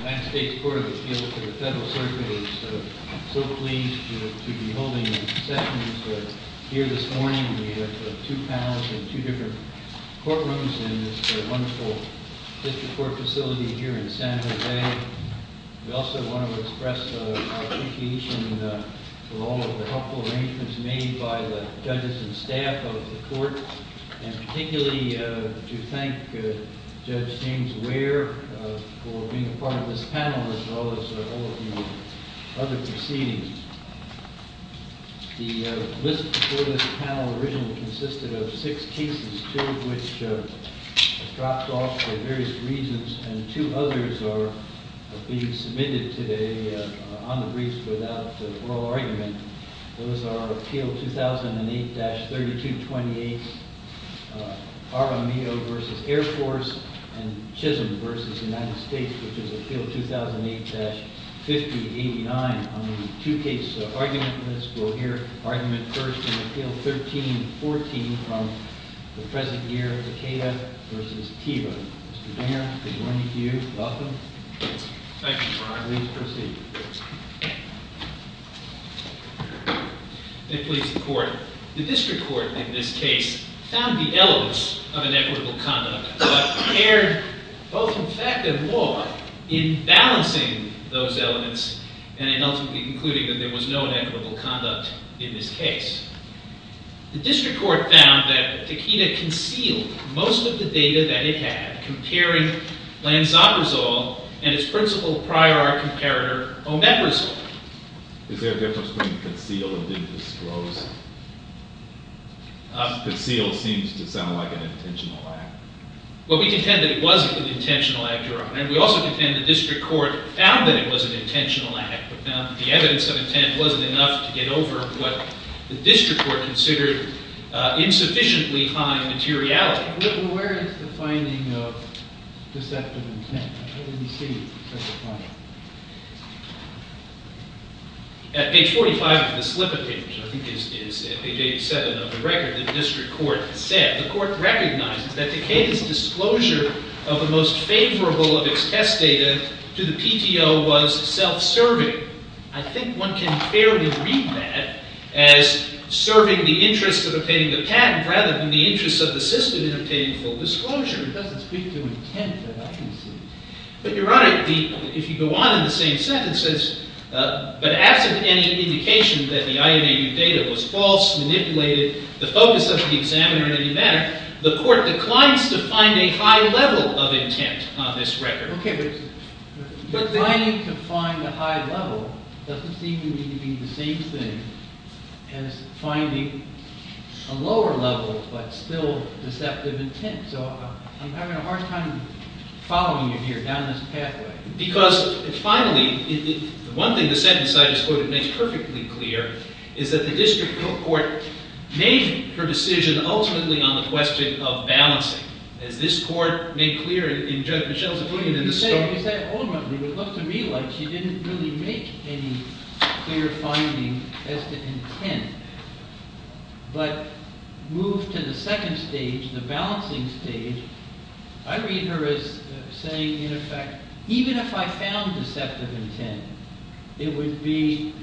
United States Court of Appeals to the Federal Circuit is so pleased to be holding these sessions here this morning. We have two panels in two different courtrooms in this wonderful district court facility here in San Jose. We also want to express our appreciation for all of the helpful arrangements made by the judges and staff of the court, and particularly to thank Judge James Ware for being a part of this panel as well as all of the other proceedings. The list before this panel originally consisted of six cases, two of which have dropped off for various reasons, and two others are being submitted today on the briefs without oral argument. Those are Appeal 2008-3228, RMEO v. Air Force, and Chisholm v. United States, which is Appeal 2008-5089 on the two-case argument list. We'll hear argument first in Appeal 1314 from the present year, Takeda v. Teva. Mr. Dan, good morning to you. Welcome. Thank you, Your Honor. Please proceed. Thank you, Mr. Court. The district court in this case found the elements of inequitable conduct but erred both in fact and law in balancing those elements and in ultimately concluding that there was no inequitable conduct in this case. The district court found that Takeda concealed most of the data that it had comparing Lanzaprazole and its principal prior art comparator, omeprazole. Is there a difference between concealed and disclosed? Concealed seems to sound like an intentional act. Well, we contend that it was an intentional act, Your Honor, and we also contend the district court found that it was an intentional act but found that the evidence of intent wasn't enough to get over what the district court considered insufficiently high materiality. Well, where is the finding of deceptive intent? I didn't see the deceptive content. At page 45 of the slip of page, I think it's page 87 of the record, the district court said, the court recognizes that Takeda's disclosure of the most favorable of its test data to the PTO was self-serving. I think one can fairly read that as serving the interests of obtaining the patent rather than the interests of the system in obtaining full disclosure. It doesn't speak to intent that I can see. But Your Honor, if you go on in the same sentence, it says, but absent any indication that the IMAU data was false, manipulated, the focus of the examiner in any manner, the court declines to find a high level of intent on this record. OK, but declining to find a high level doesn't seem to be the same thing as finding a lower level but still deceptive intent. So I'm having a hard time following you here down this pathway. Because finally, the one thing the sentence I just quoted makes perfectly clear is that the district court made her decision ultimately on the question of balancing. As this court made clear in Judge Michel's opinion in the stroke. You said ultimately. It looked to me like she didn't really make any clear finding as to intent. But move to the second stage, the balancing stage, I read her as saying, in effect, even if I found deceptive intent, it would be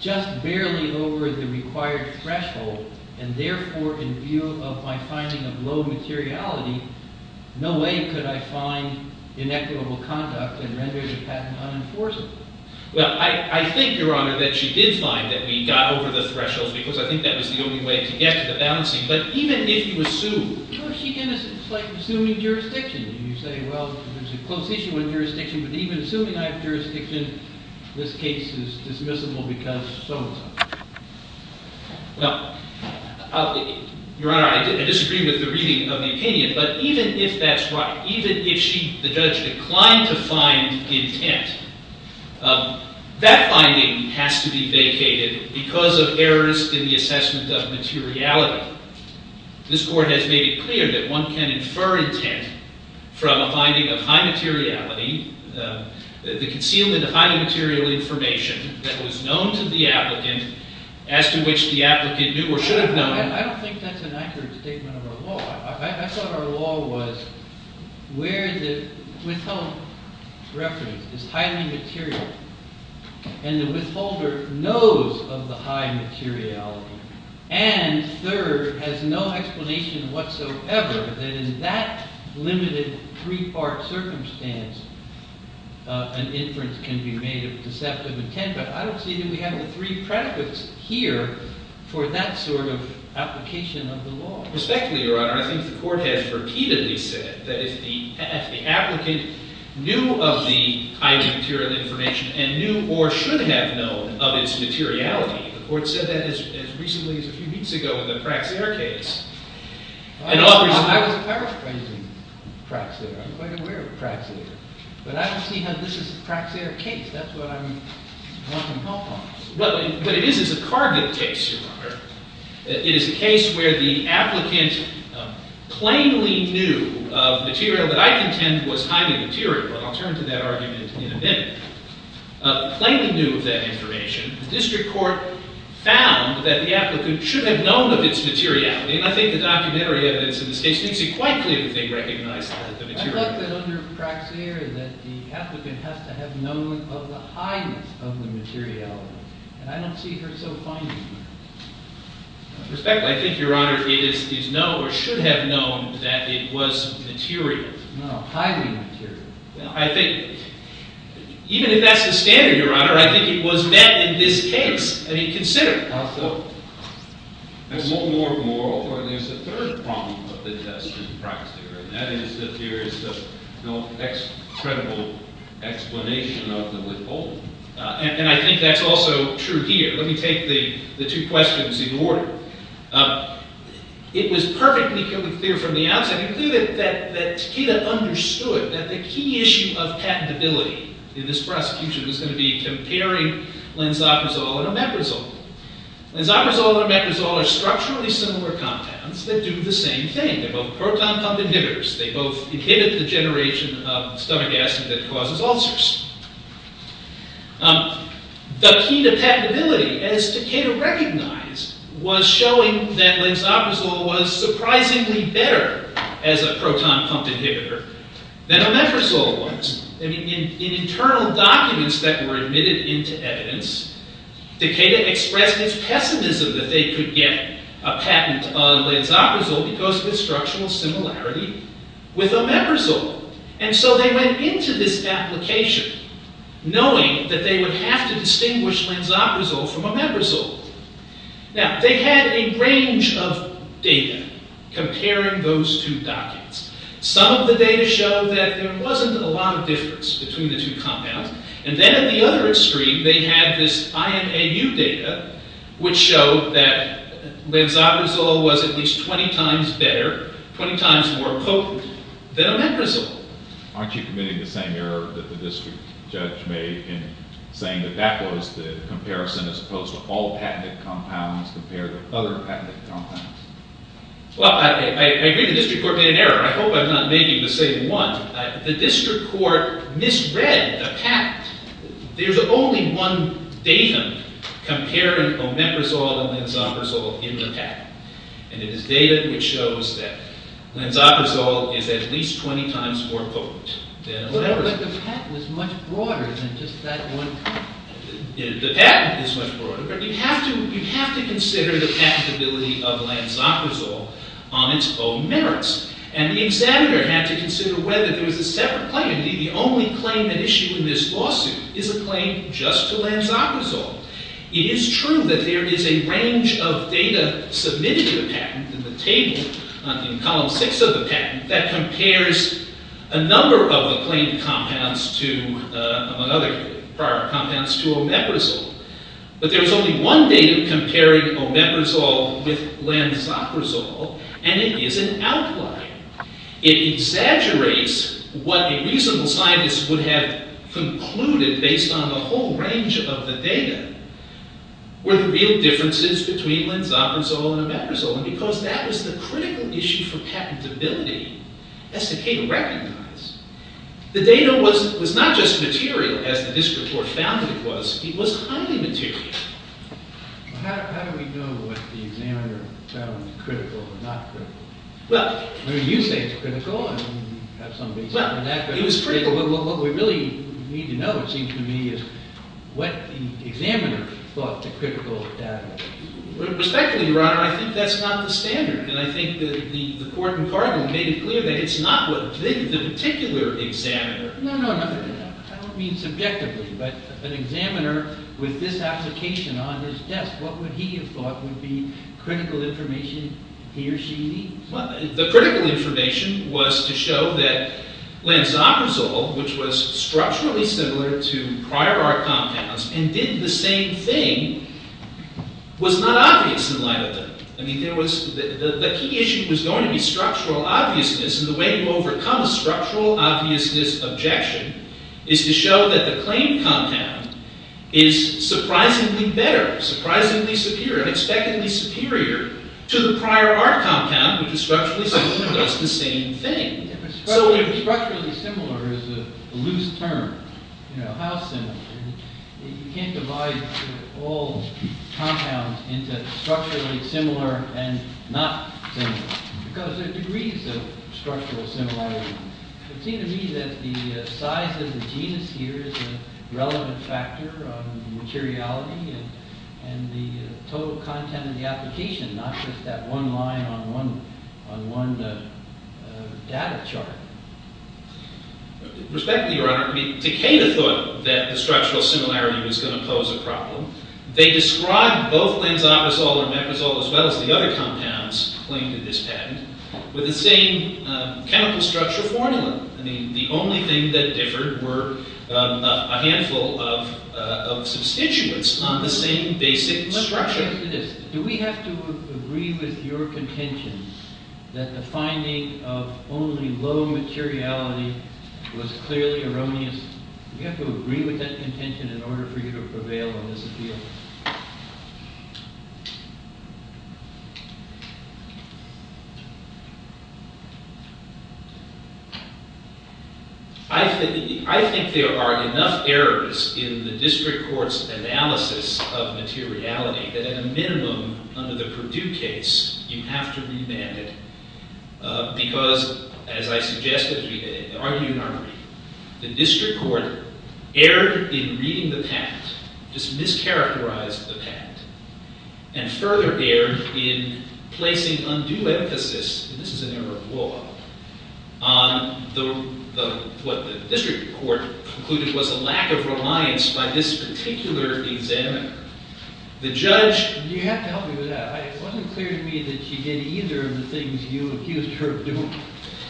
just barely over the required threshold and therefore, in view of my finding of low materiality, no way could I find inequitable conduct and render the patent unenforceable. Well, I think, Your Honor, that she did find that we got over the thresholds because I think that was the only way to get to the balancing. But even if you assume. Well, she's innocent. It's like assuming jurisdiction. You say, well, there's a close issue in jurisdiction. But even assuming I have jurisdiction, this case is dismissible because so and so. Well, Your Honor, I disagree with the reading of the opinion. But even if that's right, even if the judge declined to find intent, that finding has to be vacated because of errors in the assessment of materiality. This court has made it clear that one can infer intent from a finding of high materiality, the concealment of high material information that was known to the applicant as to which the applicant knew or should have known. I don't think that's an accurate statement of our law. I thought our law was where the withheld reference is highly material and the withholder knows of the high materiality and third, has no explanation whatsoever that in that limited three-part circumstance, an inference can be made of deceptive intent. But I don't see that we have the three predicates here for that sort of application of the law. Respectfully, Your Honor, I think the court has repeatedly said that if the applicant knew of the high material information and knew or should have known of its materiality, the court said that as recently as a few weeks ago in the Praxair case. I was paraphrasing Praxair. I'm quite aware of Praxair. But I don't see how this is a Praxair case. That's what I'm wanting help on. What it is is a Cargill case, Your Honor. It is a case where the applicant plainly knew of material that I contend was highly material. And I'll turn to that argument in a minute. Plainly knew of that information, the district court found that the applicant should have known of its materiality. And I think the documentary evidence in this case makes it quite clear that they recognized that the materiality. I thought that under Praxair, that the applicant has to have known of the highness of the materiality. And I don't see her so finding that. Respectfully, I think, Your Honor, it is known or should have known that it was material. No, highly material. I think, even if that's the standard, Your Honor, I think it was met in this case. I mean, consider. How so? And more importantly, there's a third problem of the test in Praxair. And that is that there is no credible explanation of the withholding. And I think that's also true here. Let me take the two questions in order. It was perfectly clear from the outset, it was clear that Takeda understood that the key issue of patentability in this prosecution was going to be comparing Lenzaprazole and Omeprazole. Lenzaprazole and Omeprazole are structurally similar compounds that do the same thing. They're both proton-pumped inhibitors. They both inhibit the generation of stomach acid that causes ulcers. The key to patentability, as Takeda recognized, was showing that Lenzaprazole was surprisingly better as a proton-pumped inhibitor than Omeprazole was. In internal documents that were admitted into evidence, Takeda expressed his pessimism that they could get a patent on Lenzaprazole because of its structural similarity with Omeprazole. And so they went into this application knowing that they would have to distinguish Lenzaprazole from Omeprazole. Now, they had a range of data comparing those two documents. Some of the data showed that there wasn't a lot of difference between the two compounds. And then at the other extreme, they had this IMAU data which showed that Lenzaprazole was at least 20 times better, 20 times more potent, than Omeprazole. Aren't you committing the same error that the district judge made in saying that that was the comparison as opposed to all patented compounds compared to other patented compounds? Well, I agree the district court made an error. I hope I'm not making the same one. The district court misread the patent. There's only one data comparing Omeprazole and Lenzaprazole in the patent. And it is data which shows that Lenzaprazole is at least 20 times more potent than Omeprazole. But the patent was much broader than just that one compound. The patent is much broader, but you have to consider the patentability of Lenzaprazole on its own merits. And the examiner had to consider whether there was a separate claim. Indeed, the only claim at issue in this lawsuit is a claim just to Lenzaprazole. It is true that there is a range of data submitted to the patent in the table, in column six of the patent, that compares a number of the claimed compounds to, among other prior compounds, to Omeprazole. But there's only one data comparing Omeprazole with Lenzaprazole, and it is an outlier. It exaggerates what a reasonable scientist would have concluded based on the whole range of the data, were the real differences between Lenzaprazole and Omeprazole, because that was the critical issue for patentability. That's the key to recognize. The data was not just material, as the district court found it was. It was highly material. Well, how do we know what the examiner found critical or not critical? Well, I mean, you say it's critical. I mean, you have somebody say it's not critical. Well, it was critical. But what we really need to know, it seems to me, is what the examiner thought the critical data was. Respectfully, Your Honor, I think that's not the standard. And I think that the court in Cardinal made it clear that it's not the particular examiner. No, no, no. I don't mean subjectively. But an examiner with this application on his desk, what would he have thought would be critical information he or she needs? Well, the critical information was to show that Lenzaprazole, which was structurally similar to prior art compounds and did the same thing, was not obvious in light of them. I mean, the key issue was going to be structural obviousness. And the way to overcome a structural obviousness objection is to show that the claimed compound is surprisingly better, surprisingly superior, and expectedly superior to the prior art compound, which is structurally similar and does the same thing. But structurally similar is a loose term. How similar? You can't divide all compounds into structurally similar and not similar. Because there are degrees of structural similarity. It seems to me that the size of the genus here is a relevant factor on the materiality and the total content of the application, not just that one line on one data chart. Respectfully, Your Honor, I mean, Decatur thought that the structural similarity was going to pose a problem. They described both Lenzaprazole or Meprazole as well as the other compounds claimed in this patent with the same chemical structure formula. I mean, the only thing that differed were a handful of substituents on the same basic structure. Let me ask you this. Do we have to agree with your contention that the finding of only low materiality was clearly erroneous? Do we have to agree with that contention in order for you to prevail on this appeal? I think there are enough errors in the district court's analysis of materiality that, at a minimum, under the Purdue case, you have to remand it. Because, as I suggested, the district court erred in reading the patent, just mischaracterized the patent, and further erred in placing undue emphasis, and this is an error of law, on what the district court concluded was a lack of reliance by this particular examiner. The judge- You have to help me with that. It wasn't clear to me that she did either of the things you accused her of doing.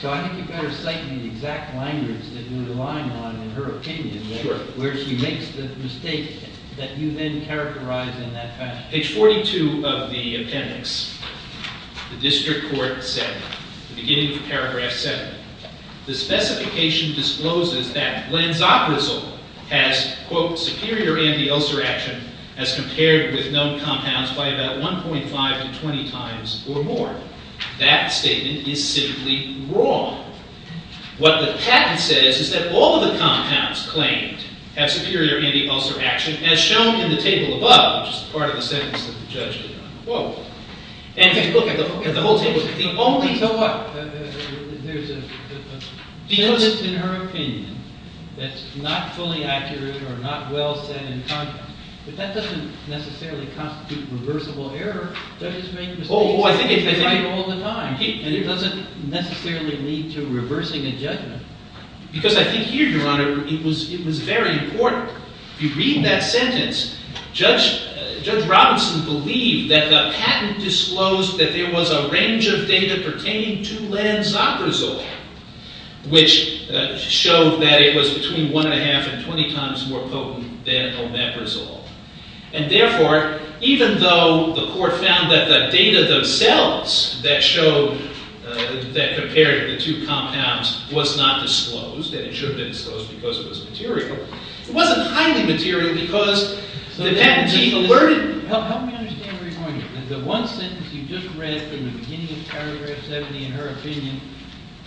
So I think you'd better cite me the exact language that you're relying on in her opinion where she makes the mistake that you didn't characterize in that patent. Page 42 of the appendix, the district court said, at the beginning of paragraph 7, the specification discloses that Lanzaprazole has, quote, superior anti-ulcer action as compared with known compounds by about 1.5 to 20 times or more. That statement is simply wrong. What the patent says is that all of the compounds claimed have superior anti-ulcer action as shown in the table above, which is part of the sentence of the judge. Whoa. And if you look at the whole table, the only- So what? There's a sentence in her opinion that's not fully accurate or not well said in contrast, but that doesn't necessarily constitute reversible error. Judges make mistakes all the time, and it doesn't necessarily lead to reversing a judgment. Because I think here, Your Honor, it was very important. If you read that sentence, Judge Robinson believed that the patent disclosed that there was a range of data pertaining to Lanzaprazole, which showed that it was between 1.5 and 20 times more potent than Omeprazole. And therefore, even though the court found that the data themselves that compared the two compounds was not disclosed, and it should have been disclosed because it was material, it wasn't highly material because the patent, she alerted- Help me understand where you're going here. The one sentence you just read from the beginning of paragraph 70, in her opinion,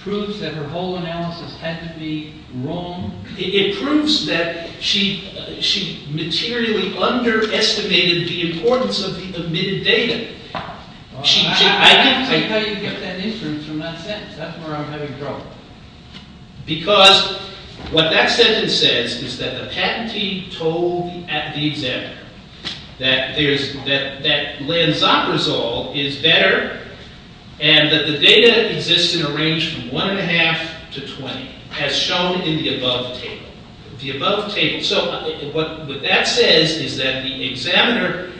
proves that her whole analysis had to be wrong? It proves that she materially underestimated the importance of the admitted data. I don't see how you get that inference from that sentence. That's where I'm having trouble. Because what that sentence says is that the patentee told the examiner that Lanzaprazole is better and that the data exists in a range from 1.5 to 20, as shown in the above table. So what that says is that the examiner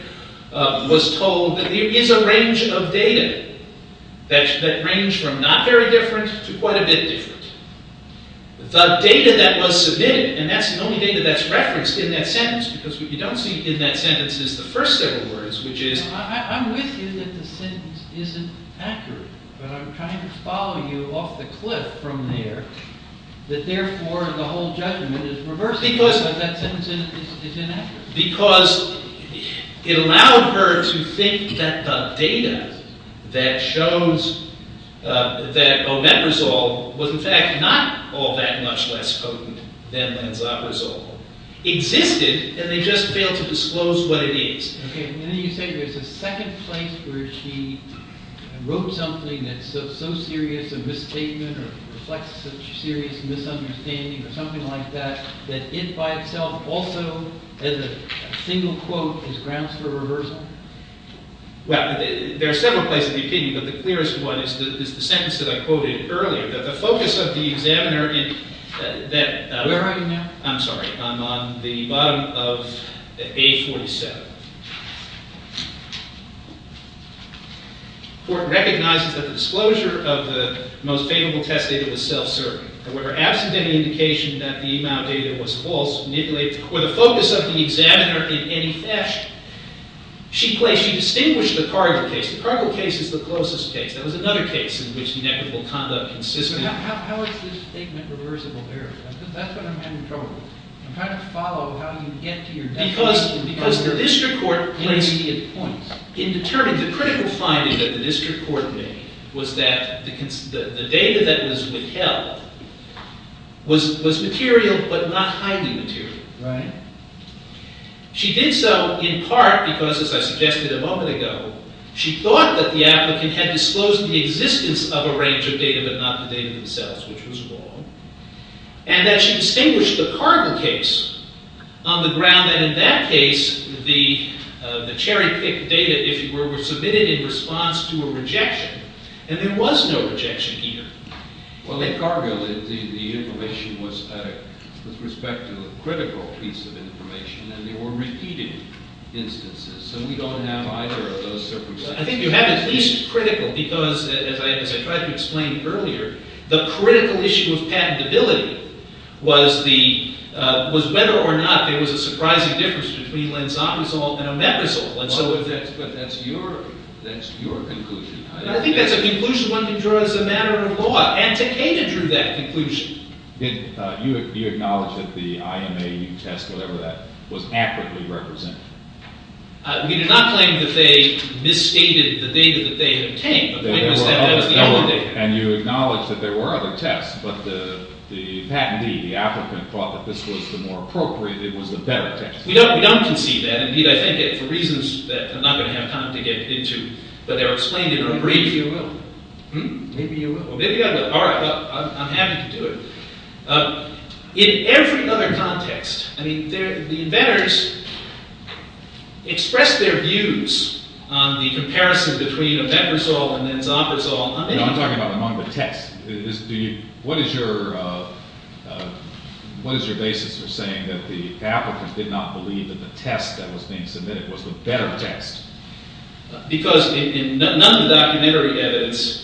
was told that there is a range of data that range from not very different to quite a bit different. The data that was submitted, and that's the only data that's referenced in that sentence because what you don't see in that sentence is the first several words, which is- I'm with you that the sentence isn't accurate, but I'm trying to follow you off the cliff from there, that therefore the whole judgment is reversed because that sentence is inaccurate. Because it allowed her to think that the data that shows that omeprazole was in fact not all that much less potent than Lanzaprazole existed, and they just failed to disclose what it is. OK, and then you say there's a second place where she wrote something that's so serious a misstatement or reflects a serious misunderstanding or something like that, that it by itself also, as a single quote, is grounds for reversal? Well, there are several places of opinion, but the clearest one is the sentence that I quoted earlier. That the focus of the examiner in that- Are we writing now? I'm sorry. I'm on the bottom of A47. The court recognizes that the disclosure of the most favorable test data was self-serving. However, absent any indication that the amount of data was false, manipulated, or the focus of the examiner in any theft, she distinguished the Cargill case. The Cargill case is the closest case. That was another case in which inequitable conduct consisted. How is this statement reversible there? Because that's what I'm having trouble with. I'm trying to follow how you get to your data. Because the district court placed, in determining the critical finding that the district court made, was that the data that was withheld was material but not highly material. She did so in part because, as I suggested a moment ago, she thought that the applicant had disclosed the existence of a range of data but not the data themselves, which was wrong. And that she distinguished the Cargill case on the ground that in that case, the cherry-picked data, if you were, were submitted in response to a rejection. And there was no rejection either. Well, in Cargill, the information was with respect to a critical piece of information. And they were repeating instances. So we don't have either of those circumstances. I think you have at least critical. Because, as I tried to explain earlier, the critical issue of patentability was whether or not there was a surprising difference between lenzomazole and omeprazole. But that's your conclusion. I think that's a conclusion one can draw as a matter of law. And Takeda drew that conclusion. Did you acknowledge that the IMA test, whatever that was, accurately represented? We did not claim that they misstated the data that they had obtained. The point was that that was the only data. And you acknowledged that there were other tests. But the patentee, the applicant, thought that this was the more appropriate. It was the better test. We don't concede that. Indeed, I think, for reasons that I'm not going to have time to get into, but they're explained in a brief. Maybe you will. Hm? Maybe you will. Maybe I will. All right. I'm happy to do it. In every other context, the inventors expressed their views on the comparison between omeprazole and lenzomazole. I'm talking about among the tests. What is your basis for saying that the applicants did not believe that the test that was being submitted was the better test? Because in none of the documentary evidence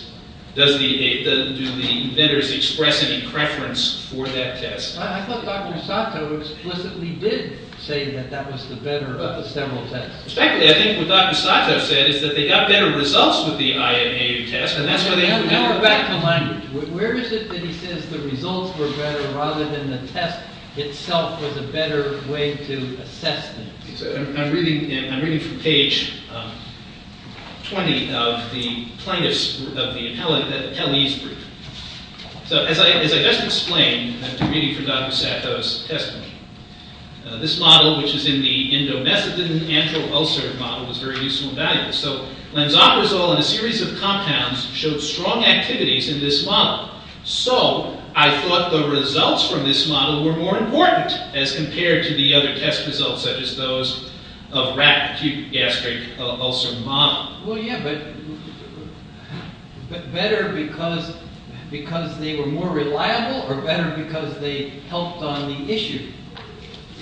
do the inventors express any preference for that test. I thought Dr. Sato explicitly did say that that was the better of the several tests. Exactly. I think what Dr. Sato said is that they got better results with the INA test. And that's why they included that. Go back to language. Where is it that he says the results were better rather than the test itself was a better way to assess them? I'm reading from page 20 of the plaintiff's, of the appellee's brief. So as I just explained, I'm reading from Dr. Sato's testimony. This model, which is in the endomethedin-antral-ulcer model, was very useful and valuable. So lenzomazole and a series of compounds showed strong activities in this model. So I thought the results from this model were more important as compared to the other test results, such as those of rat acute gastric ulcer model. Well, yeah, but better because they were more reliable or better because they helped on the issue?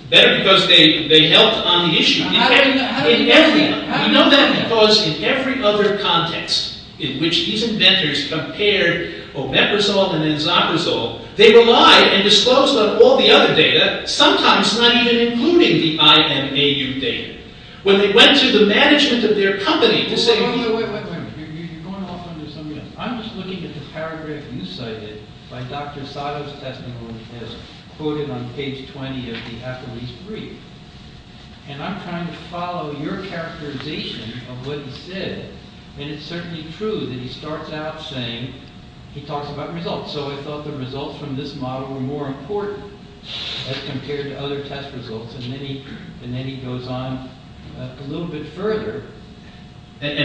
Better because they helped on the issue. How do you know that? You know that because in every other context in which these inventors compared omeprazole and enzaprazole, they relied and disclosed about all the other data, sometimes not even including the IMAU data. When they went to the management of their company to say, well, wait, wait, wait. You're going off onto something else. I'm just looking at the paragraph you cited by Dr. Sato's testimony as quoted on page 20 of the appellee's brief. And I'm trying to follow your characterization of what he said. And it's certainly true that he starts out saying he talks about results. So I thought the results from this model were more important as compared to other test results. And then he goes on a little bit further. But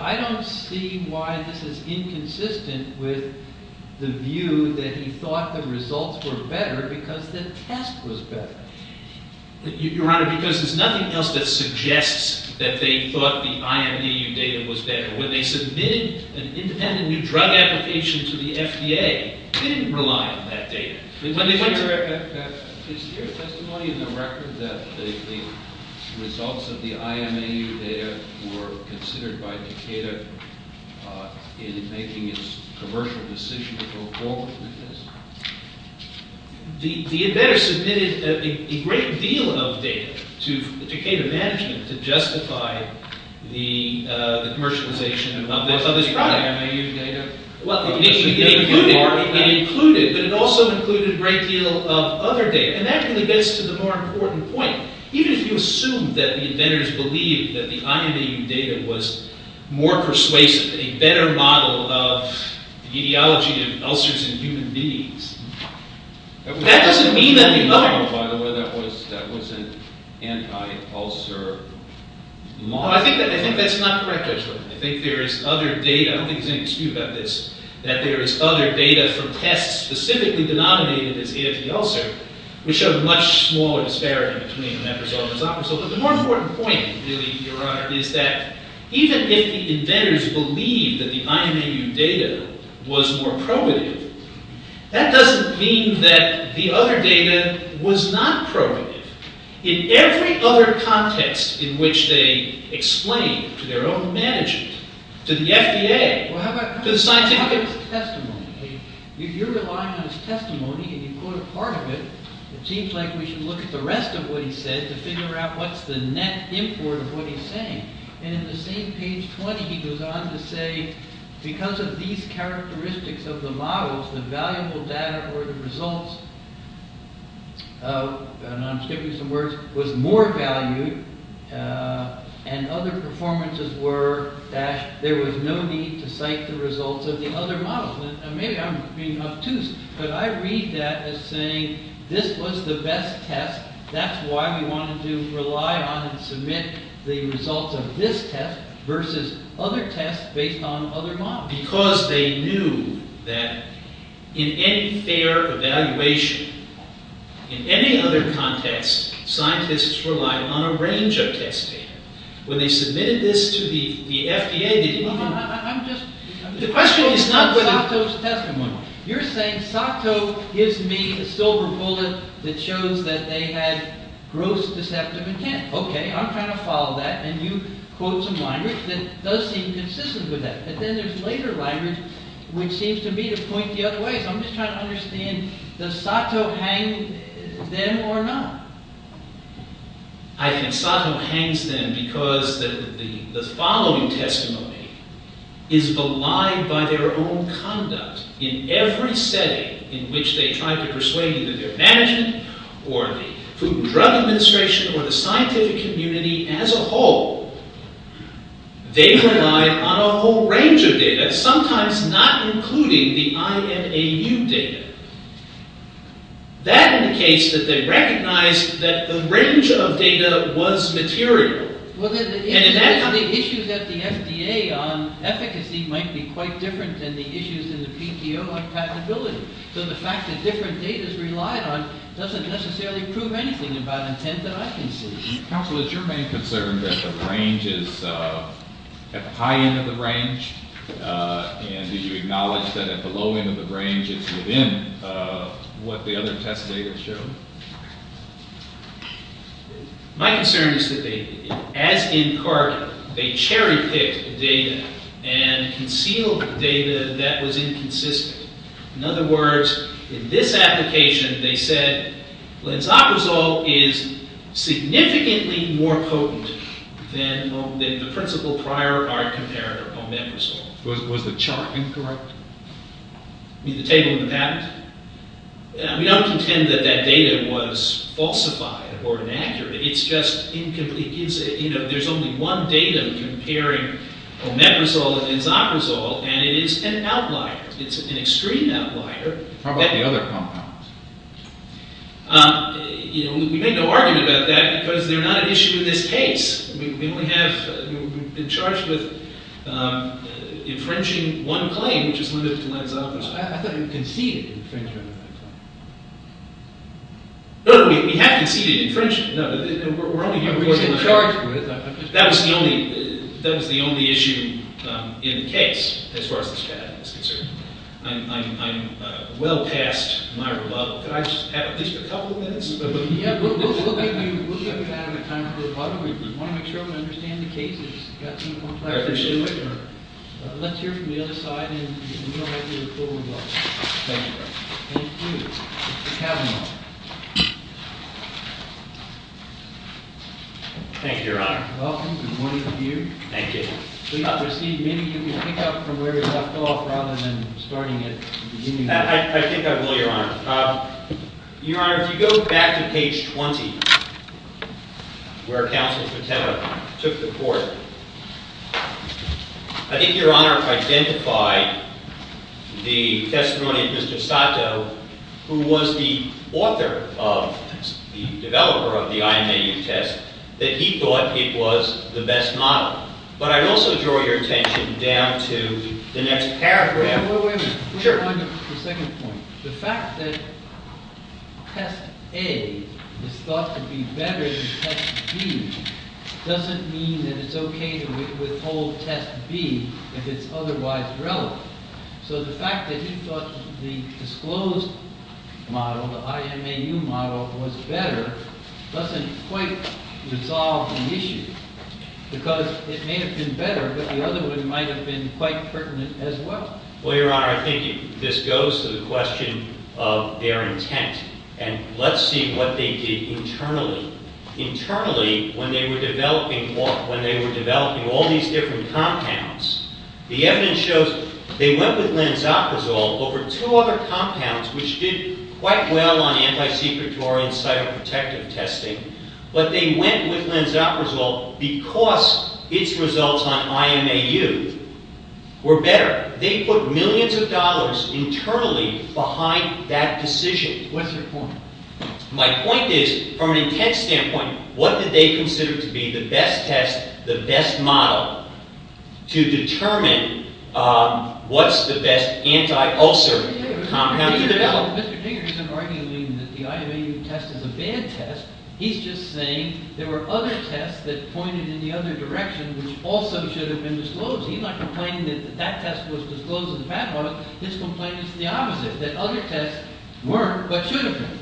I don't see why this is inconsistent with the view that he thought the results were better because the test was better. Your Honor, because there's nothing else that suggests that they thought the IMAU data was better. When they submitted an independent new drug application to the FDA, they didn't rely on that data. Is there a testimony in the record that the results of the IMAU data were considered by Decatur in making its commercial decision to go forward with this? They had better submitted a great deal of data to Decatur management to justify the commercialization of this product. It included, but it also included a great deal of other data. And that really gets to the more important point. Even if you assume that the inventors believed that the IMAU data was more persuasive, a better model of the etiology of ulcers in human beings, that doesn't mean that the other. By the way, that was an anti-ulcer model. No, I think that's not correct actually. I think there is other data. I don't think there's any dispute about this, that there is other data from tests specifically denominated as anti-ulcer, which show much smaller disparity between that result and that result. But the more important point, really, Your Honor, is that even if the inventors believed that the IMAU data was more probative, that doesn't mean that the other data was not probative. In every other context in which they explain to their own managers, to the FDA, to the scientific community. Well, how about his testimony? If you're relying on his testimony, and you quote a part of it, it seems like we should look at the rest of what he said to figure out what's the net import of what he's saying. And in the same page 20, he goes on to say, because of these characteristics of the models, the valuable data or the results, and I'm skipping some words, was more valued, and other performances were, there was no need to cite the results of the other models. And maybe I'm being obtuse, but I read that as saying, this was the best test. That's why we wanted to rely on and submit the results of this test versus other tests based on other models. Because they knew that in any fair evaluation, in any other context, scientists rely on a range of test data. When they submitted this to the FDA, they didn't even know. I'm just, I'm just quoting Sato's testimony. You're saying Sato gives me a silver bullet that shows that they had gross deceptive intent. OK, I'm trying to follow that, and you quote some language that does seem consistent with that. But then there's later language which seems to me to point the other way. I'm just trying to understand, does Sato hang them or not? I think Sato hangs them because the following testimony is a lie by their own conduct. In every setting in which they tried to persuade either their management or the Food and Drug Administration or the scientific community as a whole, they relied on a whole range of data, sometimes not including the IMAU data. That indicates that they recognized that the range of data was material. Well, the issues at the FDA on efficacy might be quite different than the issues in the PTO on compatibility. So the fact that different data is relied on doesn't necessarily prove anything about intent that I can see. Counsel, is your main concern that the range is, at the high end of the range? And did you acknowledge that at the low end of the range it's within what the other test data showed? My concern is that they, as in Carter, they cherry-picked data and concealed data that was inconsistent. In other words, in this application, they said, Lanzaprazole is significantly more potent than the principal prior art comparator, omeprazole. Was the chart incorrect? You mean the table in the patent? We don't contend that that data was falsified or inaccurate. It's just incomplete. There's only one data comparing omeprazole and lanzaprazole, and it is an outlier. It's an extreme outlier. How about the other compounds? We make no argument about that because they're not an issue in this case. We've been charged with infringing one claim, which is limited to lanzaprazole. I thought you conceded infringement of that claim. No, no, we have conceded infringement. No, we're only here for the charge. That was the only issue in the case, as far as this patent is concerned. I'm well past my rebuttal. Could I just have at least a couple of minutes? Yeah, we'll give you time for rebuttal. We want to make sure we understand the case. If you've got any more questions, do it. Let's hear from the other side, and we'll make you a full rebuttal. Thank you. Thank you. Mr. Cavanaugh. Thank you, Your Honor. Welcome. Good morning to you. Thank you. Please proceed. Maybe you can pick up from where you left off, rather than starting at the beginning. I think I will, Your Honor. Your Honor, if you go back to page 20, where Counsel Patena took the court, I think Your Honor identified the testimony of Mr. Sato, who was the author of, the developer of the IMAU test, that he thought it was the best model. But I'd also draw your attention down to the next paragraph. Wait a minute. Sure. The second point. The fact that test A is thought to be better than test B doesn't mean that it's OK to withhold test B if it's otherwise relevant. So the fact that he thought the disclosed model, the IMAU model, was better doesn't quite resolve the issue. Because it may have been better, but the other one might have been quite pertinent as well. Well, Your Honor, I think this goes to the question of their intent. And let's see what they did internally. Internally, when they were developing all these different compounds, the evidence shows they went with lenzoprazole over two other compounds, which did quite well on anti-secretory and cyberprotective testing. But they went with lenzoprazole because its results on IMAU were better. They put millions of dollars internally behind that decision. What's your point? My point is, from an intent standpoint, what did they consider to be the best test, the best model, to determine what's the best anti-ulcer compound to develop? Mr. Dinger isn't arguing that the IMAU test is a bad test. He's just saying there were other tests that pointed in the other direction which also should have been disclosed. He's not complaining that that test was disclosed as the bad one. His complaint is the opposite, that other tests weren't but should have been.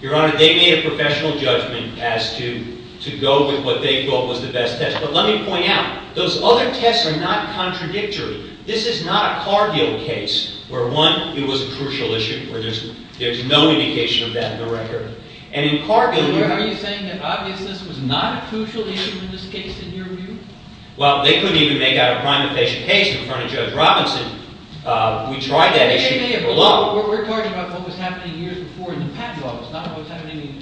Your Honor, they made a professional judgment as to go with what they thought was the best test. But let me point out, those other tests are not contradictory. This is not a Cargill case, where one, it was a crucial issue, where there's no indication of that in the record. And in Cargill, you're Are you saying that obviousness was not a crucial issue in this case, in your view? Well, they couldn't even make out a prima facie case in front of Judge Robinson. We tried that issue below. We're talking about what was happening years before in the patent law. It's not what's happening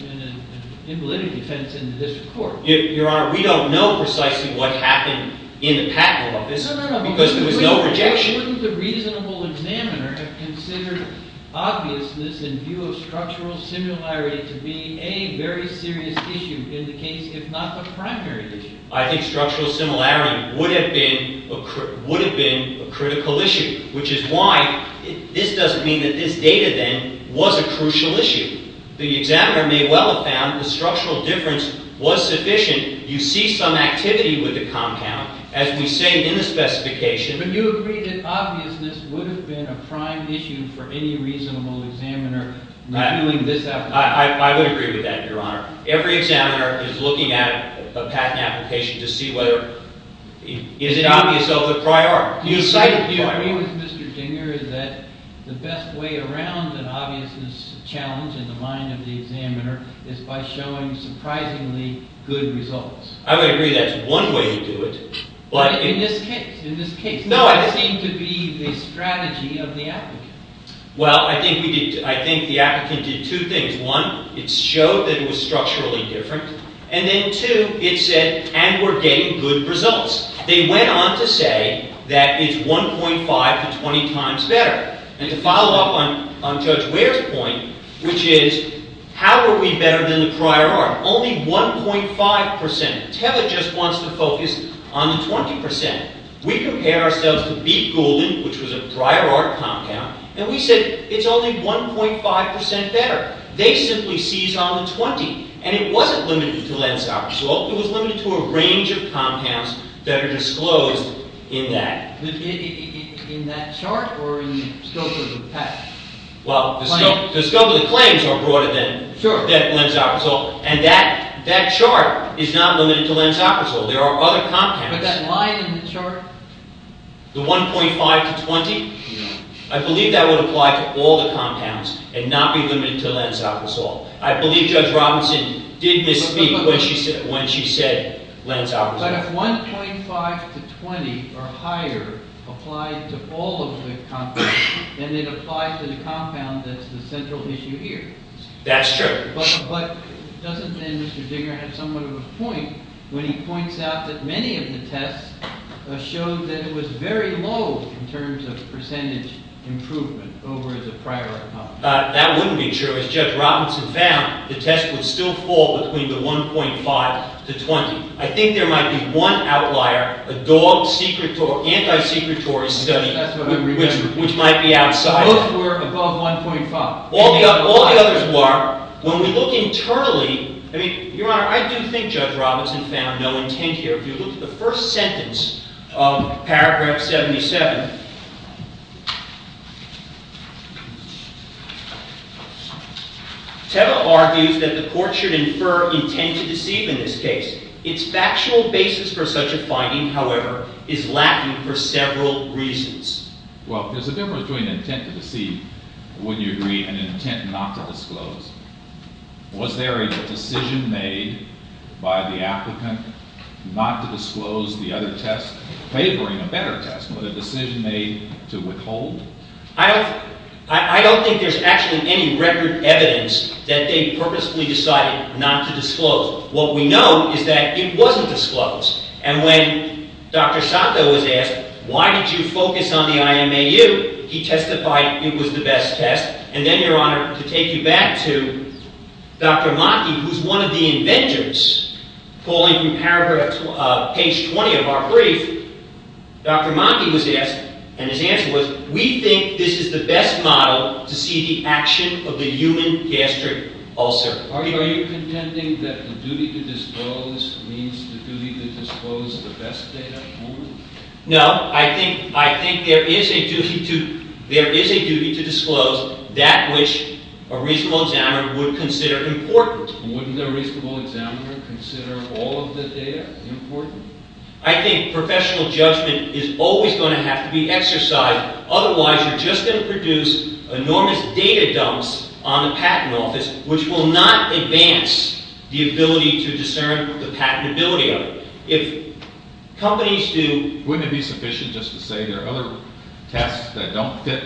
in validity defense in the district court. Your Honor, we don't know precisely what happened in the patent law. No, no, no. Because there was no rejection. Couldn't the reasonable examiner have very serious issue in the case, if not the primary issue? I think structural similarity would have been a critical issue, which is why this doesn't mean that this data, then, was a crucial issue. The examiner may well have found the structural difference was sufficient. You see some activity with the compound, as we say in the specification. But you agree that obviousness would have been a prime issue for any reasonable examiner, not doing this application. I would agree with that, Your Honor. Every examiner is looking at a patent application to see whether it is obvious of the prior. Do you agree with Mr. Dinger that the best way around an obviousness challenge in the mind of the examiner is by showing surprisingly good results? I would agree that's one way to do it. In this case. In this case. That seemed to be the strategy of the applicant. Well, I think we did. I think the applicant did two things. One, it showed that it was structurally different. And then two, it said, and we're getting good results. They went on to say that it's 1.5 to 20 times better. And to follow up on Judge Ware's point, which is, how are we better than the prior art? Only 1.5%. TELA just wants to focus on the 20%. We compared ourselves to Beet Goulden, which was a prior art compound. And we said, it's only 1.5% better. They simply seized on the 20. And it wasn't limited to Lenz-Apersol. It was limited to a range of compounds that are disclosed in that. In that chart or in the scope of the patent? Well, the scope of the claims are broader than Lenz-Apersol. And that chart is not limited to Lenz-Apersol. There are other compounds. But that line in the chart? The 1.5 to 20? Yeah. I believe that would apply to all the compounds and not be limited to Lenz-Apersol. I believe Judge Robinson did misspeak when she said Lenz-Apersol. But if 1.5 to 20 or higher applied to all of the compounds, then it applies to the compound that's the central issue here. That's true. But doesn't then Mr. Digger have somewhat of a point when he points out that many of the tests showed that it was very low in terms of percentage improvement over the prior account? That wouldn't be true. As Judge Robinson found, the test would still fall between the 1.5 to 20. I think there might be one outlier, a dog anti-secretory study, which might be outside. Those were above 1.5. All the others were. When we look internally, I mean, Your Honor, I do think Judge Robinson found no intent here. If you look at the first sentence of paragraph 77, Teva argues that the court should infer intent to deceive in this case. Its factual basis for such a finding, however, is lacking for several reasons. Well, there's a difference between intent to deceive, wouldn't you agree, and intent not to disclose. Was there a decision made by the applicant not to disclose the other test, favoring a better test, but a decision made to withhold? I don't think there's actually any record evidence that they purposefully decided not to disclose. What we know is that it wasn't disclosed. And when Dr. Sato was asked, why did you focus on the IMAU, he testified it was the best test. And then, Your Honor, to take you back to Dr. Maki, who's one of the inventors, calling from page 20 of our brief, Dr. Maki was asked, and his answer was, we think this is the best model to see the action of the human gastric ulcer. Are you contending that the duty to disclose means the duty to disclose the best data? No. I think there is a duty to disclose that which a reasonable examiner would consider important. Wouldn't a reasonable examiner consider all of the data important? I think professional judgment is always going to have to be exercised. Otherwise, you're just going to produce enormous data dumps on the patent office, which will not advance the ability to discern the patentability of it. Wouldn't it be sufficient just to say there are other tests that don't fit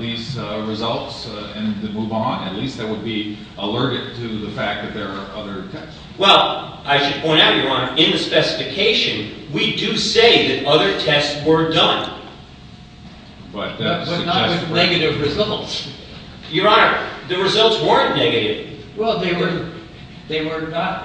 these results and move on? At least that would be alerted to the fact that there are other tests. Well, I should point out, Your Honor, in the specification, we do say that other tests were done. But not with negative results. Your Honor, the results weren't negative. Well, they were not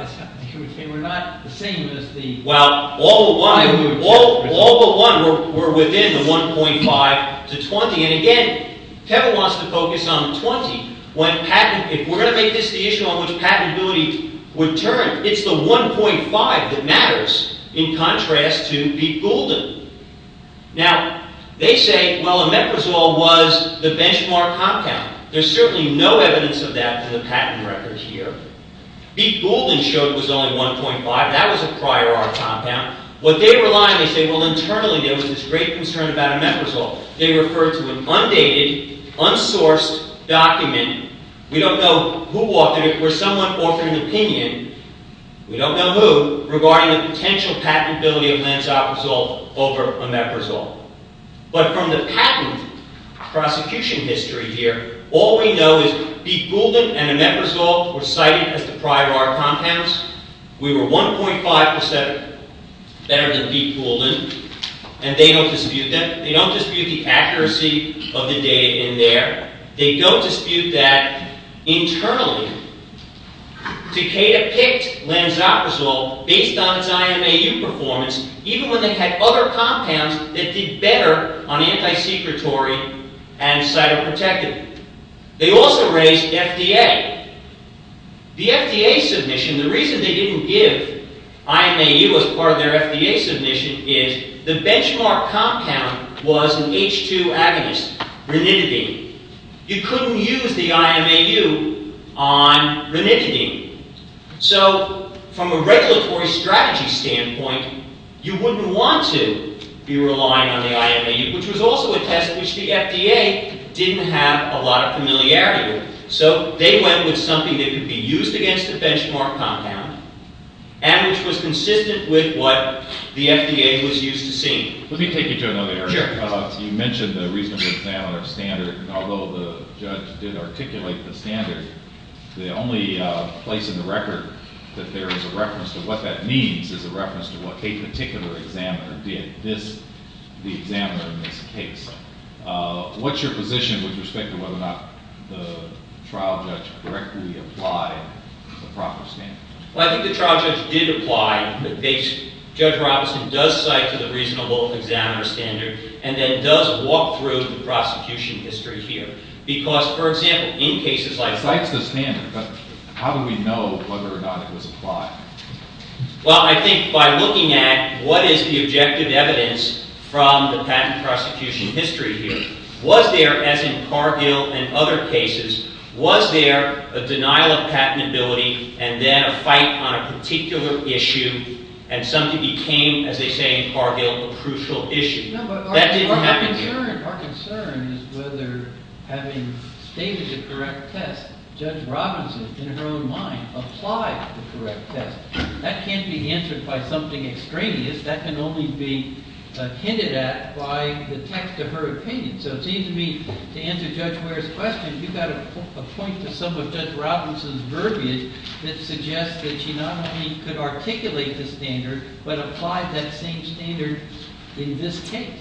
the same as the... Well, all but one were within the 1.5 to 20. And again, Kevin wants to focus on the 20. If we're going to make this the issue on which patentability would turn, it's the 1.5 that matters in contrast to B. Goulden. Now, they say, well, Omeprazole was the benchmark compound. There's certainly no evidence of that in the patent record here. B. Goulden showed it was only 1.5. That was a prior art compound. What they rely on, they say, well, internally, there was this great concern about Omeprazole. They referred to an undated, unsourced document. We don't know who authored it or if someone authored an opinion. We don't know who, regarding the potential patentability of Lansoprazole over Omeprazole. But from the patent prosecution history here, all we know is B. Goulden and Omeprazole were cited as the prior art compounds. We were 1.5% better than B. Goulden. And they don't dispute that. They don't dispute the accuracy of the data in there. They don't dispute that internally. Takeda picked Lansoprazole based on its IMAU performance, even when they had other compounds that did better on anti-secretory and cytoprotective. They also raised FDA. The FDA submission, the reason they didn't give IMAU as part of their FDA submission is the benchmark compound was an H2 agonist, ranitidine. You couldn't use the IMAU on ranitidine. So from a regulatory strategy standpoint, you wouldn't want to be relying on the IMAU, which was also a test which the FDA didn't have a lot of familiarity with. So they went with something that could be used against the benchmark compound and which was consistent with what the FDA was used to seeing. Let me take you to another area. Sure. You mentioned the reasonable examiner standard. Although the judge did articulate the standard, the only place in the record that there is a reference to what that means is a reference to what a particular examiner did, the examiner in this case. What's your position with respect to whether or not the trial judge directly applied the proper standard? Well, I think the trial judge did apply the basic. Judge Robinson does cite the reasonable examiner standard and then does walk through the prosecution history here. Because, for example, in cases like this... Cites the standard, but how do we know whether or not it was applied? Well, I think by looking at what is the objective evidence from the patent prosecution history here, was there, as in Cargill and other cases, was there a denial of patentability and then a fight on a particular issue and something became, as they say in Cargill, a crucial issue? Our concern is whether, having stated the correct test, Judge Robinson, in her own mind, applied the correct test. That can't be answered by something extraneous. That can only be hinted at by the text of her opinion. So it seems to me, to answer Judge Ware's question, you've got to point to some of Judge Robinson's verbiage that suggests that she not only could articulate the standard, but applied that same standard in this case.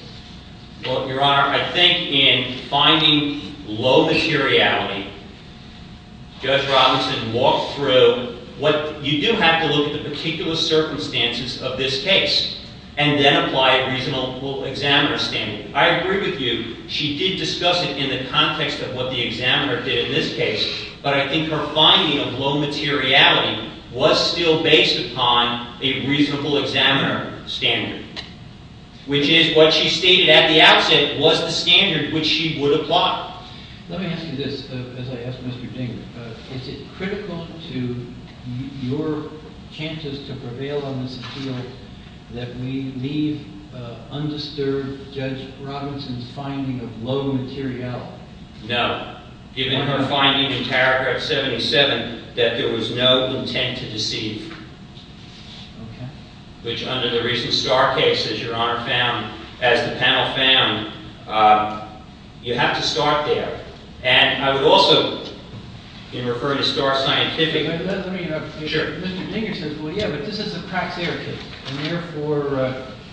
Well, Your Honor, I think in finding low materiality, Judge Robinson walked through what... You do have to look at the particular circumstances of this case and then apply a reasonable examiner standard. I agree with you, she did discuss it in the context of what the examiner did in this case, but I think her finding of low materiality was still based upon a reasonable examiner standard, which is what she stated at the outset was the standard which she would apply. Let me ask you this, as I ask Mr. Ding. Is it critical to your chances to prevail on this appeal that we leave undisturbed Judge Robinson's finding of low materiality? No. Given her finding in paragraph 77 that there was no intent to deceive, which under the recent Starr case, as Your Honor found, as the panel found, you have to start there. And I would also, in referring to Starr's scientific... But that doesn't mean... Sure. Mr. Dinger says, well, yeah, but this is a praxair case, and therefore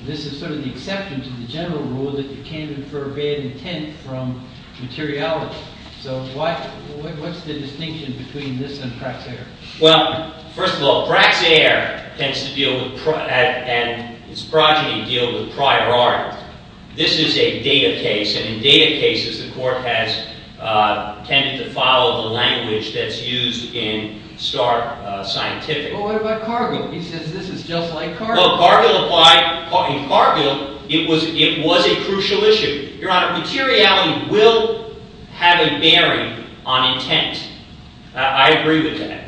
this is sort of the exception to the general rule that you can't infer bad intent from materiality. So what's the distinction between this and praxair? Well, first of all, praxair tends to deal with... and its progeny deal with prior art. This is a data case, and in data cases, the court has tended to follow the language that's used in Starr scientific... He says this is just like Cargill. In Cargill, it was a crucial issue. Your Honor, materiality will have a bearing on intent. I agree with that.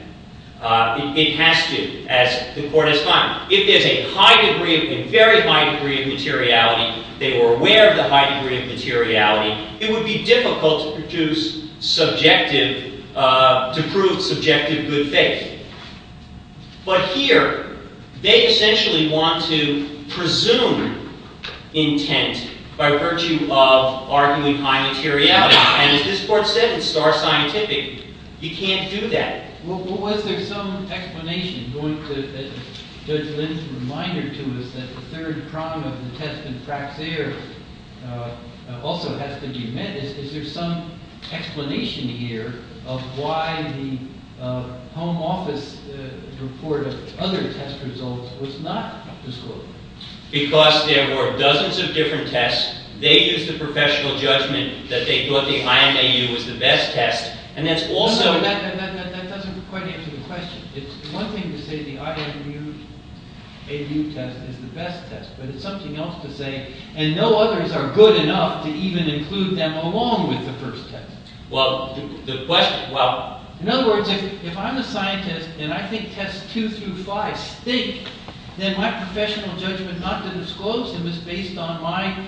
It has to, as the court has found. If there's a high degree, a very high degree of materiality, they were aware of the high degree of materiality, it would be difficult to produce subjective... to prove subjective good faith. But here, they essentially want to presume intent by virtue of, arguably, high materiality. And as this court said in Starr scientific, you can't do that. Well, was there some explanation going to... Judge Lin's reminder to us that the third prong of the test in praxair also has to be met. Is there some explanation here of why the home office report of other test results was not disclosed? Because there were dozens of different tests. They used the professional judgment that they thought the IMAU was the best test, and that's also... That doesn't quite answer the question. It's one thing to say the IMAU test is the best test, but it's something else to say, and no others are good enough to even include them along with the first test. Well, the question... In other words, if I'm a scientist, and I think tests 2 through 5 stink, then my professional judgment not to disclose them is based on my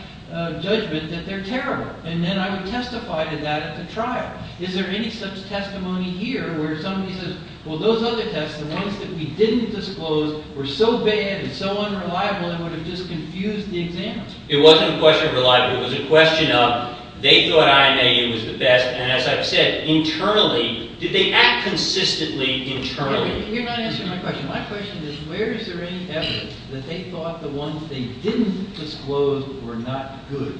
judgment that they're terrible, and then I would testify to that at the trial. Is there any such testimony here where somebody says, well, those other tests, the ones that we didn't disclose, were so bad and so unreliable it would have just confused the examiner? It wasn't a question of reliability. It was a question of they thought IMAU was the best, and as I've said, internally... Did they act consistently internally? You're not answering my question. My question is, where is there any evidence that they thought the ones they didn't disclose were not good?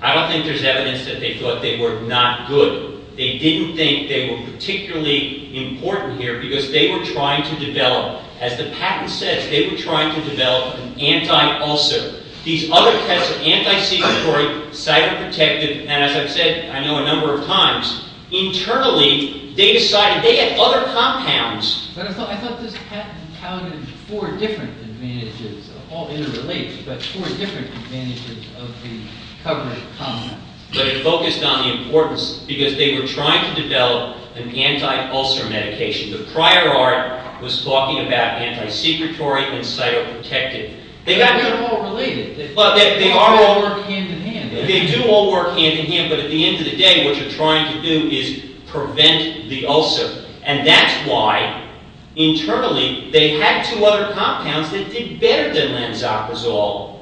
I don't think there's evidence that they thought they were not good. They didn't think they were particularly important here because they were trying to develop... As the patent says, they were trying to develop an anti-ulcer. These other tests are anti-secretory, cytoprotective, and as I've said, I know a number of times, internally, they decided they had other compounds. But I thought this patent counted four different advantages. They're all interrelated, but four different advantages of the covenant compounds. But it focused on the importance because they were trying to develop an anti-ulcer medication. The prior art was talking about anti-secretory and cytoprotective. They're not all related. They all work hand-in-hand. They do all work hand-in-hand, but at the end of the day, what you're trying to do is prevent the ulcer. And that's why, internally, they had two other compounds that did better than lenzaprazole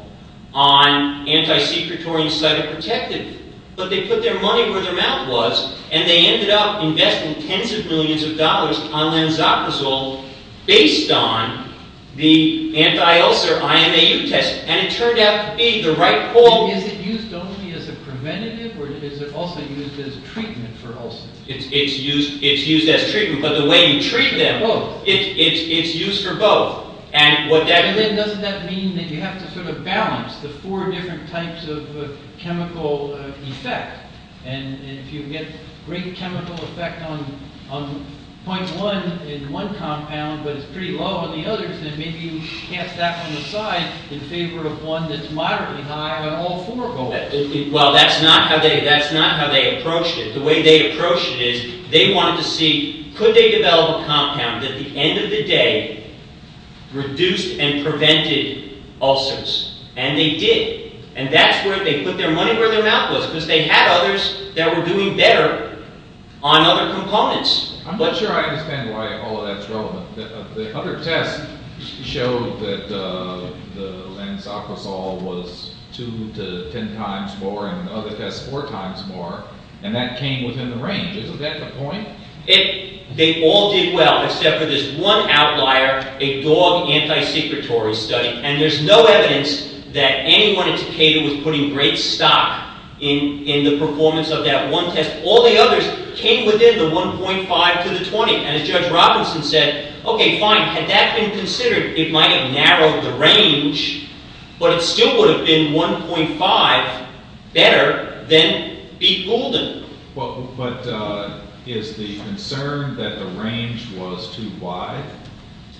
on anti-secretory and cytoprotective, but they put their money where their mouth was and they ended up investing tens of millions of dollars on lenzaprazole based on the anti-ulcer IMAU test. And it turned out to be the right call. Is it used only as a preventative or is it also used as treatment for ulcers? It's used as treatment, but the way you treat them, it's used for both. And then doesn't that mean that you have to sort of balance the four different types of chemical effect? And if you get great chemical effect on point one in one compound, but it's pretty low on the others, then maybe you cast that one aside in favor of one that's moderately high on all four of them. Well, that's not how they approached it. The way they approached it is they wanted to see, could they develop a compound that at the end of the day reduced and prevented ulcers? And they did. And that's where they put their money, where their mouth was, because they had others that were doing better on other components. I'm not sure I understand why all of that's relevant. The other test showed that the Lansacrasol was two to ten times more and the other test four times more, and that came within the range. Isn't that the point? They all did well, except for this one outlier, a dog anti-secretory study. And there's no evidence that anyone at Takeda was putting great stock in the performance of that one test. All the others came within the 1.5 to the 20. And as Judge Robinson said, okay, fine. Had that been considered, it might have narrowed the range, but it still would have been 1.5 better than B. Goulden. But is the concern that the range was too wide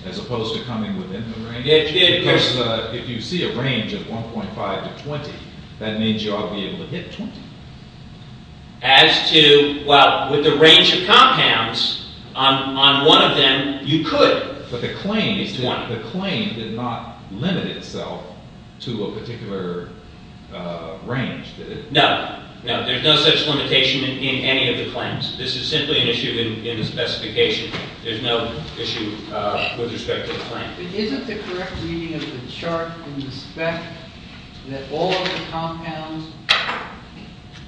as opposed to coming within the range? Because if you see a range of 1.5 to 20, that means you ought to be able to hit 20. As to, well, with the range of compounds on one of them, you could. But the claim is that the claim did not limit itself to a particular range, did it? No, no. There's no such limitation in any of the claims. This is simply an issue in the specification. There's no issue with respect to the claim. Isn't the correct meaning of the chart in the spec that all of the compounds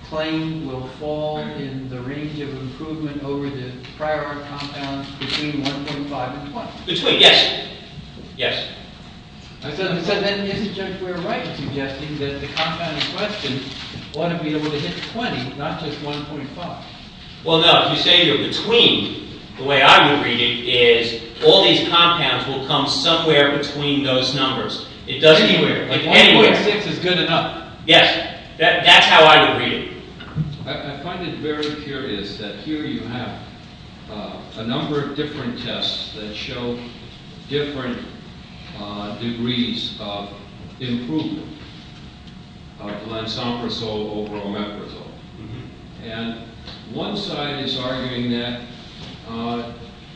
claimed will fall in the range of improvement over the prior compounds between 1.5 and 20? Between, yes. Yes. I said, then, isn't Judge Ware right in suggesting that the compound in question ought to be able to hit 20, not just 1.5? Well, no. If you say you're between, the way I would read it is all these compounds will come somewhere between those numbers. Anywhere. 1.6 is good enough. Yes. That's how I would read it. I find it very curious that here you have a number of different tests that show different degrees of improvement of glansoprazole over omeprazole. And one side is arguing that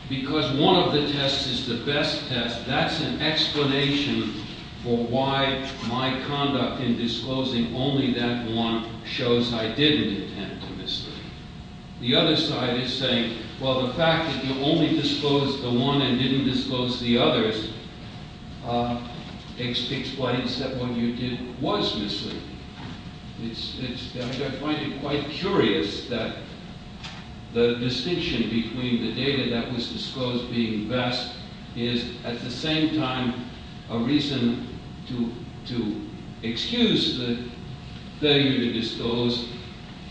because one of the tests is the best test, that's an explanation for why my conduct in disclosing only that one shows I didn't intend to mislead. The other side is saying, well, the fact that you only disclosed the one and didn't disclose the others explains that what you did was misleading. I find it quite curious that the distinction between the data that was disclosed being best is, at the same time, a reason to excuse the failure to disclose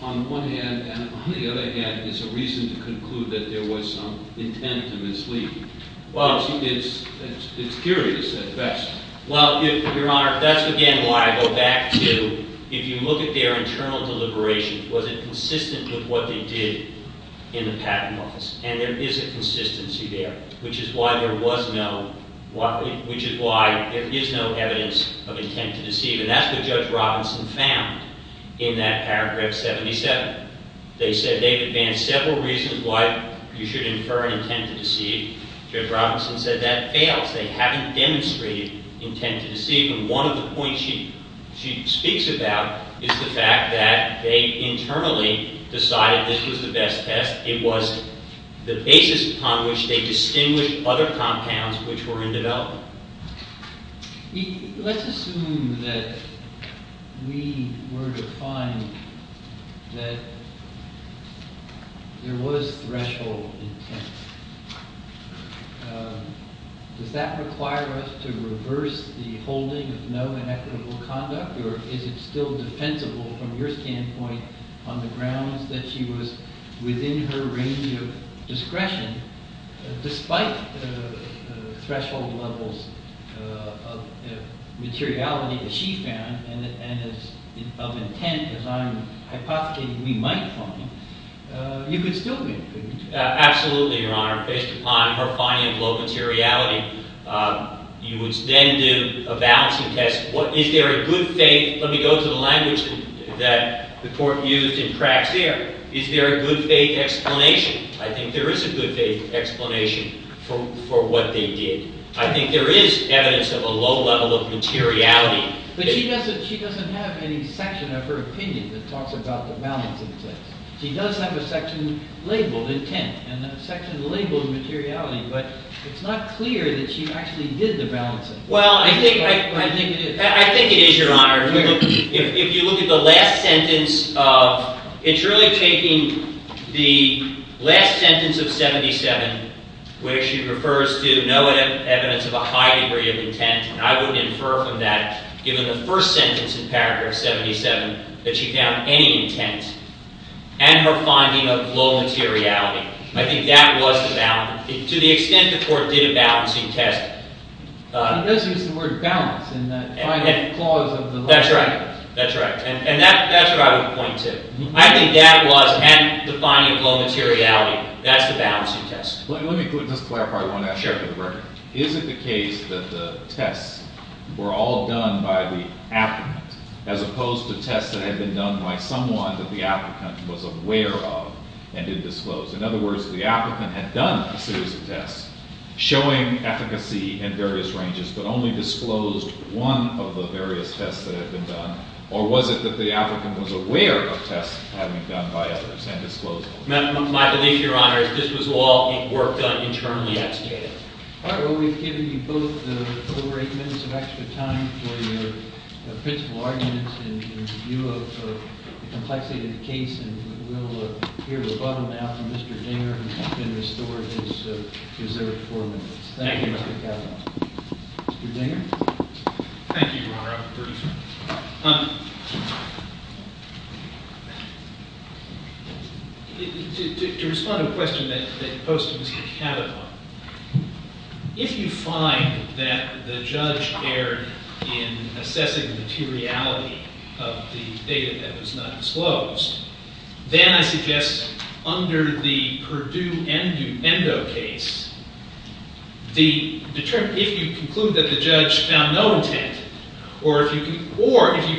on one hand, and on the other hand, is a reason to conclude that there was some intent to mislead. It's curious at best. Well, Your Honor, that's again why I go back to if you look at their internal deliberations, was it consistent with what they did in the Patent Office? And there is a consistency there, which is why there was no, which is why there is no evidence of intent to deceive. And that's what Judge Robinson found in that paragraph 77. They said they've advanced several reasons why you should infer an intent to deceive. Judge Robinson said that fails. They haven't demonstrated intent to deceive. And one of the points she speaks about is the fact that they internally decided this was the best test. It was the basis upon which they distinguished other compounds which were in development. Let's assume that we were to find that there was threshold intent. Does that require us to reverse the holding of no inequitable conduct? Or is it still defensible from your standpoint on the grounds that she was within her range of discretion despite threshold levels of materiality that she found and of intent, as I'm hypothesizing we might find, you could still make a good conclusion? Absolutely, Your Honor. Based upon her finding of low materiality, you would then do a balancing test. Is there a good faith? Let me go to the language that the court used in Praxair. Is there a good faith explanation? I think there is a good faith explanation for what they did. I think there is evidence of a low level of materiality. But she doesn't have any section of her opinion that talks about the balancing test. She does have a section labeled intent and a section labeled materiality, but it's not clear that she actually did the balancing test. Well, I think it is, Your Honor. If you look at the last sentence, it's really taking the last sentence of 77 where she refers to evidence of a high degree of intent. I would infer from that, given the first sentence in paragraph 77, that she found any intent and her finding of low materiality. I think that was the balance. To the extent the court did a balancing test. He does use the word balance in that final clause of the law. That's right. And that's what I would point to. I think that was and the finding of low materiality. That's the balancing test. Let me just clarify Is it the case that the tests were all done by the applicant as opposed to tests that had been done by someone that the applicant was aware of and didn't disclose? In other words, the applicant had done a series of tests showing efficacy in various ranges but only disclosed one of the various tests that had been done or was it that the applicant was aware of tests having been done by others and disclosed them? My belief, Your Honor, is this was all work that internally executed. All right. Well, we've given you both over eight minutes of extra time for your principal arguments in view of the complexity of the case and we'll hear a rebuttal now from Mr. Dinger who has been restored his reserved four minutes. Thank you, Mr. Cavanaugh. Mr. Dinger? Thank you, Your Honor. I'm a producer. To respond to a question that you posed to me, Mr. Cavanaugh, if you find that the judge erred in assessing the materiality of the data that was not disclosed, then I suggest under the Perdue-Endo case, if you conclude that the judge found no intent or if you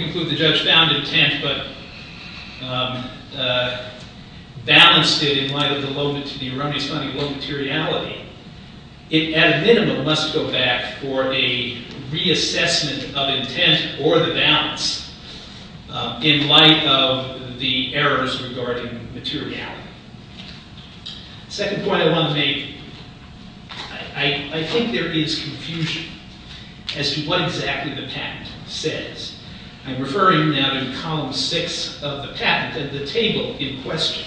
conclude the judge found intent but balanced it in light of the erroneous finding of low materiality, it at a minimum must go back for a reassessment of intent or the balance in light of the errors regarding materiality. The second point I want to make, I think there is confusion as to what exactly the patent says. I'm referring now to column six of the patent and the table in question.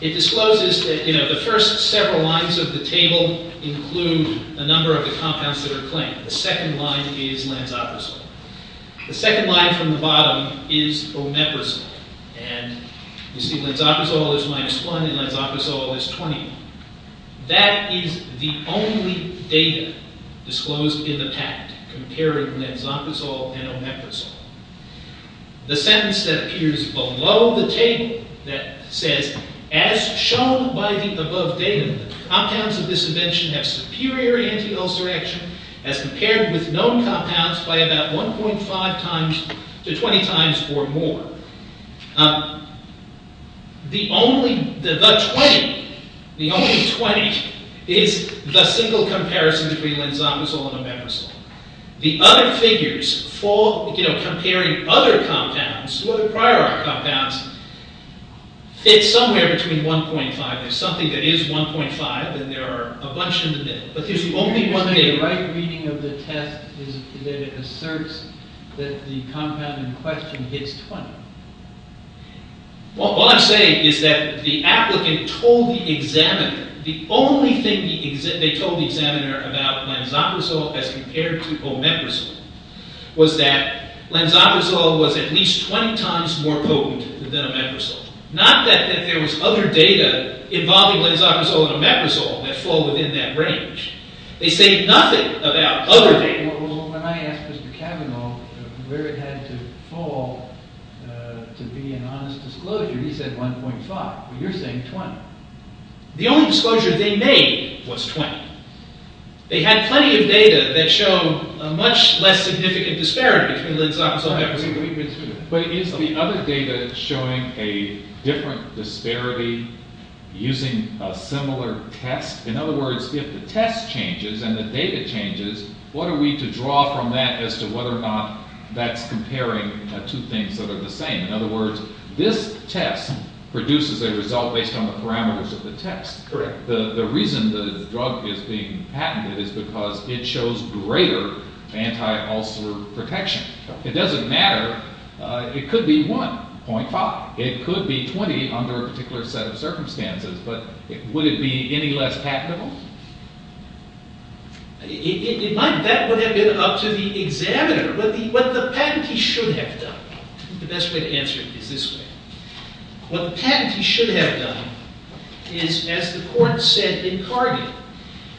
It discloses that, you know, the first several lines of the table include a number of the compounds that are claimed. The second line is Lanzaprazole. The second line from the bottom is Omeprazole. And you see Lanzaprazole is minus one and Lanzaprazole is 20. That is the only data disclosed in the patent comparing Lanzaprazole and Omeprazole. The sentence that appears below the table that says, as shown by the above data, the compounds of this invention have superior anti-ulcer action as compared with known compounds by about 1.5 times to 20 times or more. The only, the 20, the only 20 is the single comparison between Lanzaprazole and Omeprazole. The other figures for, you know, comparing other compounds, the other prior compounds, fit somewhere between 1.5. There's something that is 1.5 and there are a bunch in the middle. But there's only one thing. The right reading of the test is that it asserts that the compound in question hits 20. What I'm saying is that the applicant told the examiner the only thing they told the examiner about Lanzaprazole as compared to Omeprazole was that Lanzaprazole was at least 20 times more potent than Omeprazole. Not that there was other data involving Lanzaprazole and Omeprazole that fall within that range. They say nothing about other data. When I asked Mr. Cavanaugh where it had to fall to be an honest disclosure, he said 1.5. You're saying 20. The only disclosure they made was 20. They had plenty of data that showed a much less significant disparity between Lanzaprazole and Omeprazole. But is the other data showing a different disparity using a similar test? In other words, if the test changes and the data changes, what are we to draw from that as to whether or not that's comparing two things that are the same? In other words, this test produces a result based on the parameters of the test. The reason the drug is being patented is because it shows greater anti-ulcer protection. It doesn't matter. It could be 1.5. It could be 20 under a particular set of circumstances. But would it be any less patentable? It might. That would have been up to the examiner. But what the patentee should have done... The best way to answer it is this way. What the patentee should have done is, as the court said in Cargill,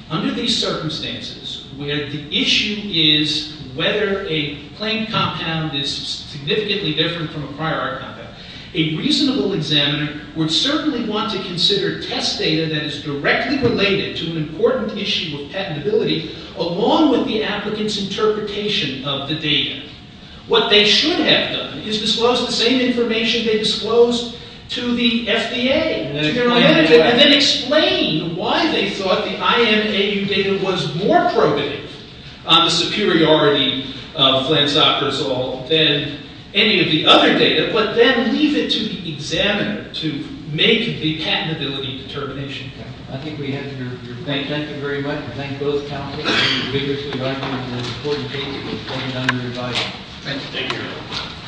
under these circumstances where the issue is whether a plain compound is significantly different from a prior compound, a reasonable examiner would certainly want to consider test data that is directly related to an important issue of patentability along with the applicant's interpretation of the data. What they should have done is disclose the same information they disclosed to the FDA, and then explain why they thought the IMAU data was more probative on the superiority of Flansoprazole than any of the other data, but then leave it to the examiner to make the patentability determination. I think we have your thank you very much. I thank both counties for vigorously writing the important data that was pointed out in your advice. Thank you.